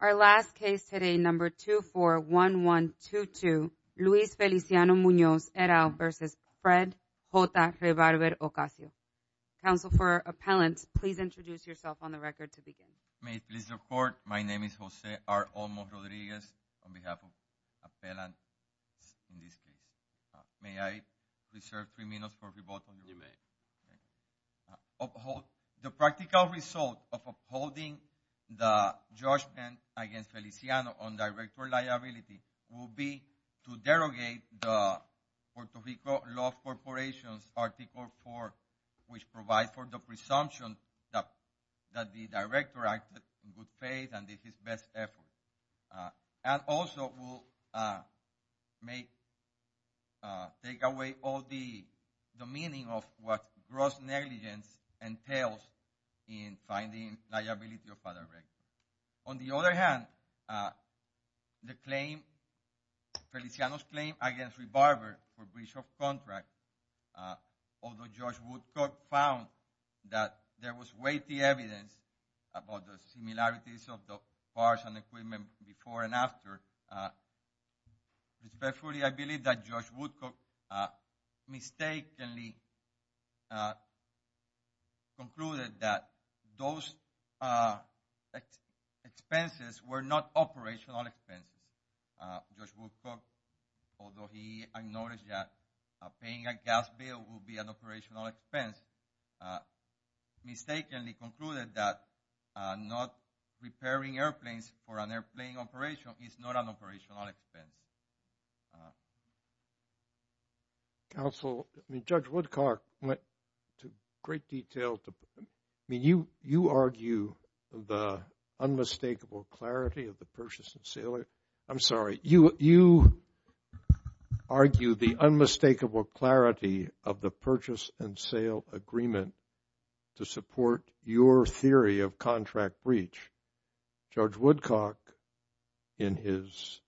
Our last case today, number 241122, Luis Feliciano-Munoz, et al. v. Fred J. Rebarber-Ocasio. Counsel for appellant, please introduce yourself on the record to begin. May it please the court, my name is Jose R. Olmos-Rodriguez on behalf of appellant in this case. May I reserve three minutes for rebuttal? You may. The practical result of upholding the judgment against Feliciano on director liability will be to derogate the Puerto Rico Law Corporation's Article 4, which provides for the presumption that the director acted in good faith and did his best effort. And also will take away all the meaning of what gross negligence entails in finding liability of other records. On the other hand, Feliciano's claim against Rebarber for breach of contract, although Judge Woodcock found that there was weighty evidence about the similarities of the parts and equipment before and after, respectfully I believe that Judge Woodcock mistakenly concluded that those expenses were not operational expenses. Judge Woodcock, although he acknowledged that paying a gas bill will be an operational expense, he has mistakenly concluded that not repairing airplanes for an airplane operation is not an operational expense. Counsel, Judge Woodcock went to great detail to, I mean, you argue the unmistakable clarity of the purchase and sale, I'm sorry, you argue the unmistakable clarity of the purchase and sale agreement to support your theory of contract breach. Judge Woodcock in his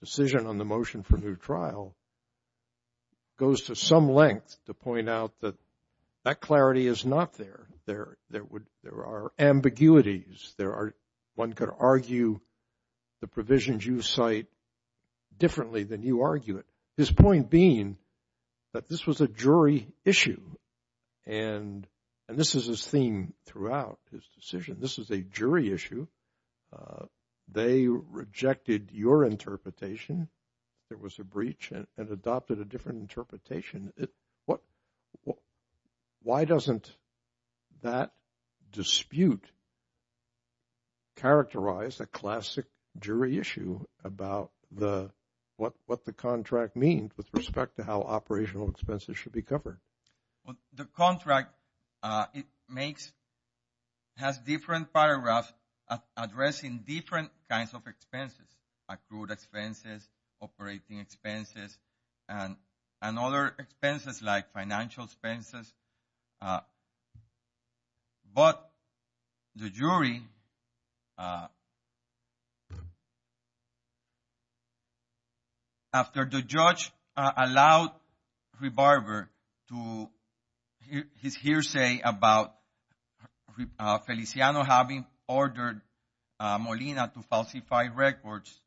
decision on the motion for new trial goes to some length to point out that that clarity is not there. There are ambiguities, there are, one could argue the provisions you cite differently than you argue it. His point being that this was a jury issue. And this is his theme throughout his decision. This is a jury issue. They rejected your interpretation. There was a breach and adopted a different interpretation. What, why doesn't that dispute characterize a classic jury issue about the, what the contract means with respect to how operational expenses should be covered? The contract, it makes, has different paragraphs addressing different kinds of expenses, accrued expenses, operating expenses, and other expenses like financial expenses. But the jury, after the judge allowed Rebarber to, his hearsay about Feliciano having ordered Molina to falsify records,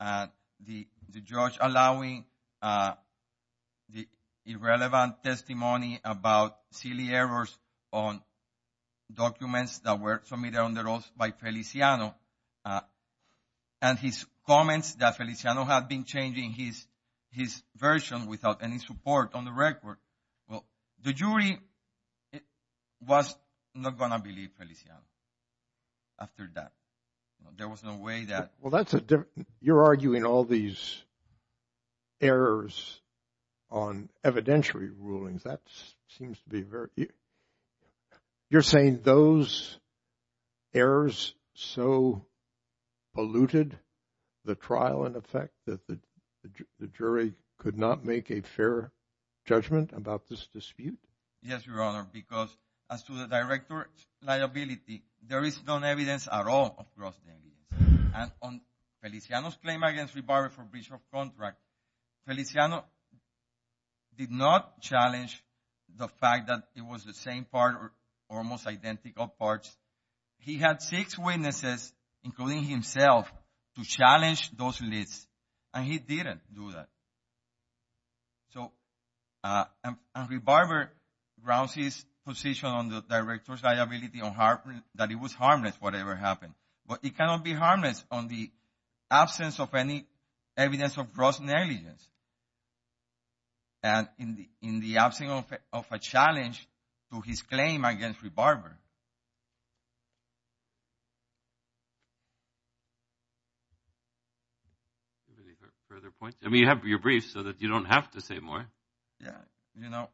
the judge allowing the irrelevant testimony about silly errors on documents that were submitted on the rolls by Feliciano, and his comments that Feliciano had been changing his version without any support on the record. Well, the jury was not going to believe Feliciano after that. There was no way that. Well, that's a different, you're arguing all these errors on evidentiary rulings. That seems to be very, you're saying those errors so polluted the trial in effect that the jury could not make a fair judgment about this dispute? Yes, Your Honor, because as to the director's liability, there is no evidence at all across the evidence. And on Feliciano's claim against Rebarber for breach of contract, Feliciano did not challenge the fact that it was the same part or almost identical parts. He had six witnesses, including himself, to challenge those lists, and he didn't do that. So Rebarber grounds his position on the director's liability that it was harmless, whatever happened. But it cannot be harmless on the absence of any evidence of gross negligence, and in the absence of a challenge to his claim against Rebarber. Any further points? I mean, you have your brief so that you don't have to say more. Yeah, you know,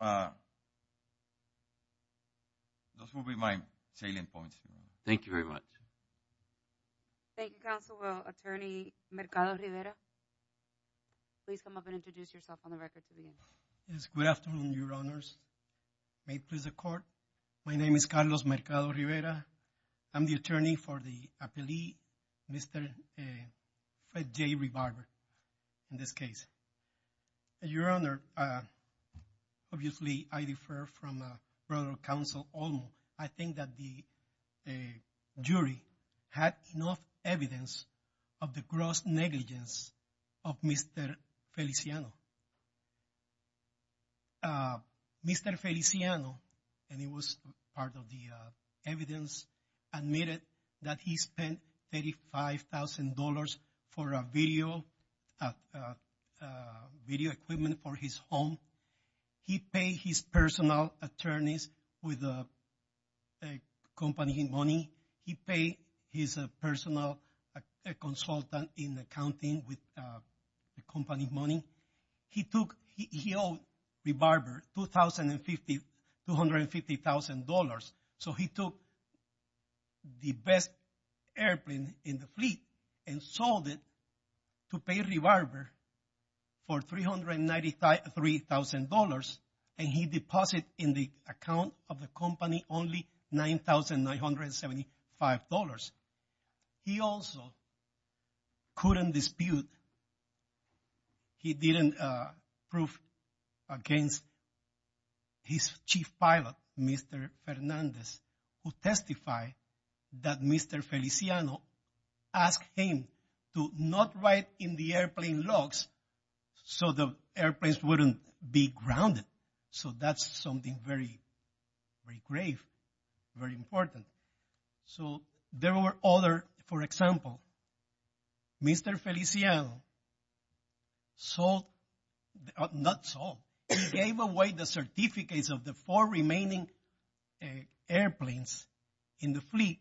those will be my salient points. Thank you very much. Thank you, counsel. Attorney Mercado-Rivera, please come up and introduce yourself on the record. Mercado-Rivera, I'm the attorney for the appellee, Mr. J. Rebarber, in this case. Your Honor, obviously, I defer from a brother of counsel, Olmo. I think that the jury had enough evidence of the gross negligence of Mr. Feliciano. Mr. Feliciano, and he was part of the evidence, admitted that he spent $35,000 for a video equipment for his home. He paid his personal attorneys with the company money. He paid his personal consultant in accounting with the company money. He owed Rebarber $250,000, so he took the best airplane in the fleet and sold it to pay Rebarber for $393,000, and he deposited in the account of the company only $9,975. He also couldn't dispute, he didn't prove against his chief pilot, Mr. Fernandez, who testified that Mr. Feliciano asked him to not write in the airplane logs so the airplanes wouldn't be grounded. So that's something very, very grave, very important. So there were other, for example, Mr. Feliciano sold, not sold, he gave away the certificates of the four remaining airplanes in the fleet.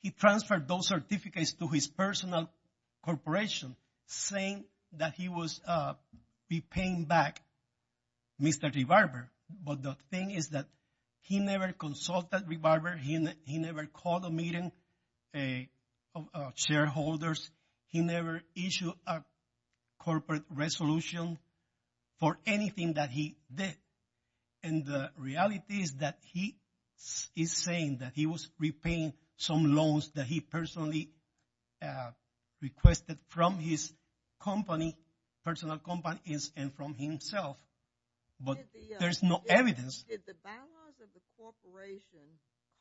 He transferred those certificates to his personal corporation, saying that he was repaying back Mr. Rebarber. But the thing is that he never consulted Rebarber, he never called a meeting of shareholders, he never issued a corporate resolution for anything that he did. And the reality is that he is saying that he was repaying some loans that he personally requested from his company, personal company, and from himself. But there's no evidence. Did the balance of the corporation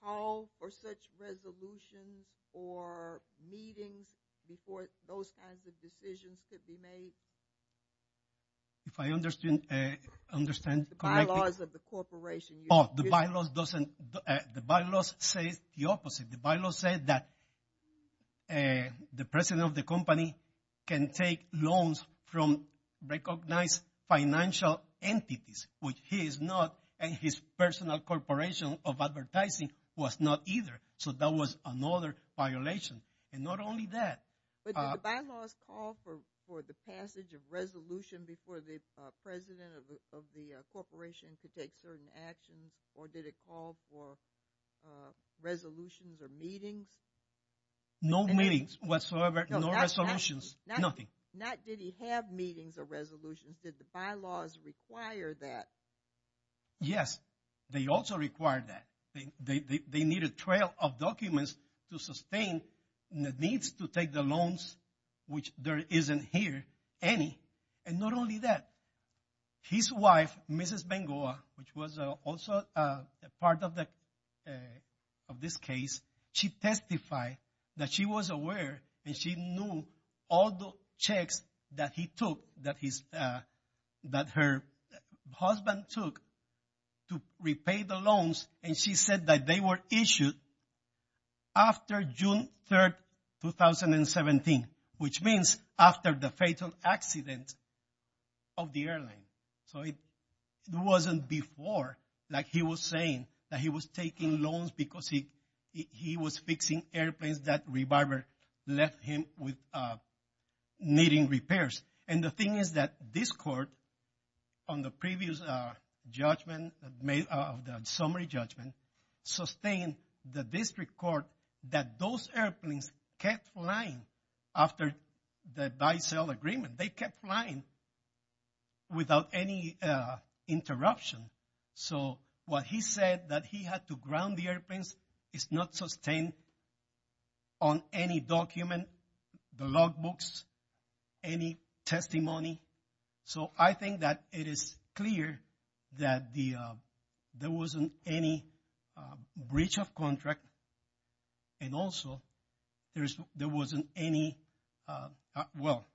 call for such resolutions or meetings before those kinds of decisions could be made? If I understand, correct me. The bylaws of the corporation. Oh, the bylaws doesn't, the bylaws say the opposite. The bylaws say that the president of the company can take loans from recognized financial entities, which he is not, and his personal corporation of advertising was not either. So that was another violation. And not only that. But did the bylaws call for the passage of resolution before the president of the corporation could take certain actions, or did it call for resolutions or meetings? No meetings whatsoever, no resolutions, nothing. Not did he have meetings or resolutions, did the bylaws require that? Yes, they also required that. They needed a trail of documents to sustain the needs to take the loans, which there isn't here any. And not only that, his wife, Mrs. Bengoa, which was also a part of this case, she testified that she was aware and she knew all the checks that he took, that her husband took to repay the loans. And she said that they were issued after June 3rd, 2017, which means after the fatal accident of the airline. So it wasn't before, like he was saying, that he was taking loans because he was fixing airplanes that rebarber left him with needing repairs. And the thing is that this court on the previous judgment, the summary judgment, sustained the district court that those airplanes kept flying after the buy-sell agreement. They kept flying without any interruption. So what he said that he had to ground the airplanes is not sustained on any document, the log books, any testimony. So I think that it is clear that there wasn't any breach of contract. And also there wasn't any, well,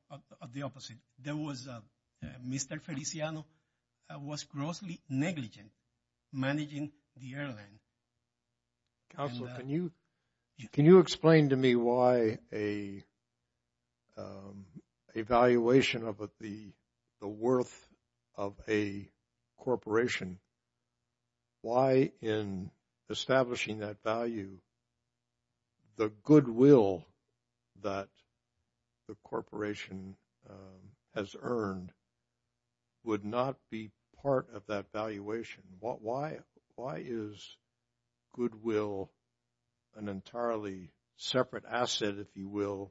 the opposite. There was, Mr. Feliciano was grossly negligent managing the airline. Counselor, can you explain to me why an evaluation of the worth of a corporation, why in establishing that value, the goodwill that the corporation has earned would not be part of that valuation? Why is goodwill an entirely separate asset, if you will,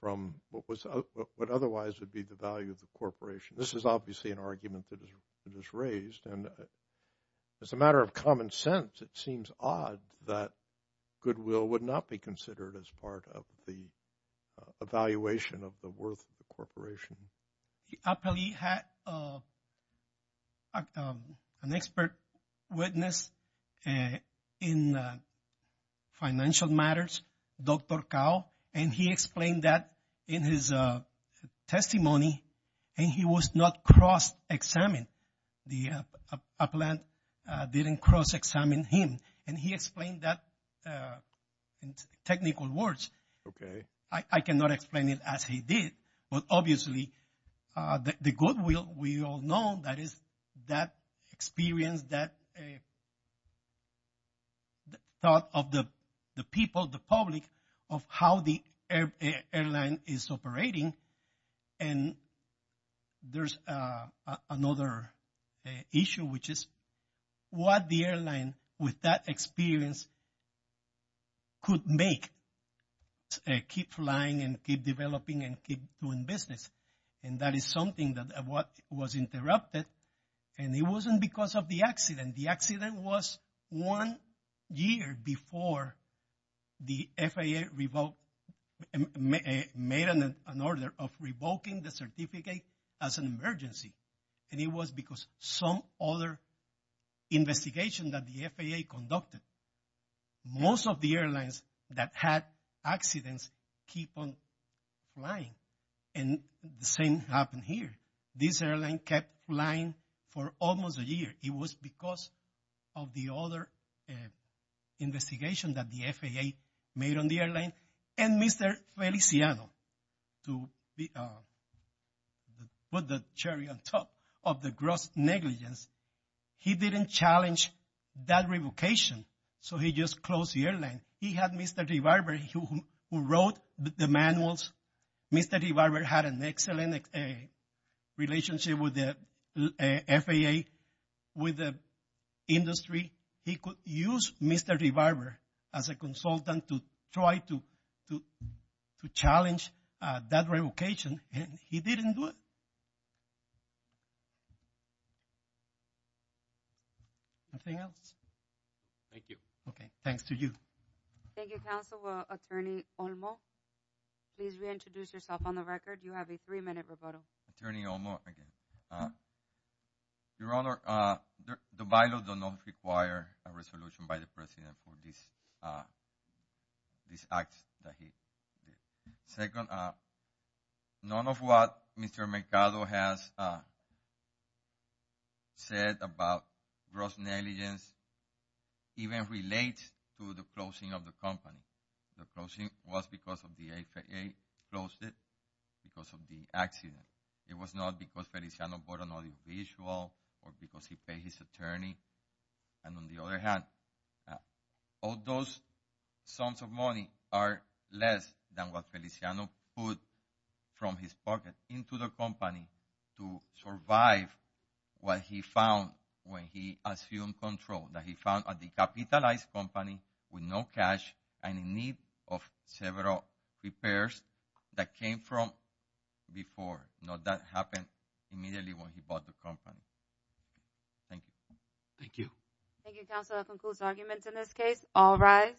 from what otherwise would be the value of the corporation? This is obviously an argument that is raised. And as a matter of common sense, it seems odd that goodwill would not be considered as part of the evaluation of the worth of the corporation. Appellee had an expert witness in financial matters, Dr. Cao, and he explained that in his testimony. And he was not cross examined. The appellant didn't cross examine him. And he explained that in technical words. Okay. I cannot explain it as he did. But obviously, the goodwill, we all know that is that experience, that thought of the people, the public, of how the airline is operating. And there's another issue, which is what the airline with that experience could make, keep flying and keep developing and keep doing business. And that is something that was interrupted. And it wasn't because of the accident. The accident was one year before the FAA revoked, made an order of revoking the certificate as an emergency. And it was because some other investigation that the FAA conducted. Most of the airlines that had accidents keep on flying. And the same happened here. This airline kept flying for almost a year. It was because of the other investigation that the FAA made on the airline. And Mr. Feliciano, to put the cherry on top of the gross negligence, he didn't challenge that revocation. So he just closed the airline. He had Mr. DeBarber who wrote the manuals. Mr. DeBarber had an excellent relationship with the FAA, with the industry. He could use Mr. DeBarber as a consultant to try to challenge that revocation. And he didn't do it. Anything else? Thank you. Okay. Thanks to you. Thank you, counsel. Attorney Olmo, please reintroduce yourself on the record. You have three minutes, Roberto. Attorney Olmo again. Your Honor, the bylaws do not require a resolution by the President for this act that he did. Second, none of what Mr. Mercado has said about gross negligence even relates to the closing of the company. The closing was because the FAA closed it because of the accident. It was not because Feliciano bought an audiovisual or because he paid his attorney. And on the other hand, all those sums of money are less than what Feliciano put from his pocket into the company to survive what he found when he assumed control, that he found a decapitalized company with no cash and in need of several repairs that came from before. Not that happened immediately when he bought the company. Thank you. Thank you. Thank you, counsel. That concludes arguments in this case. All rise.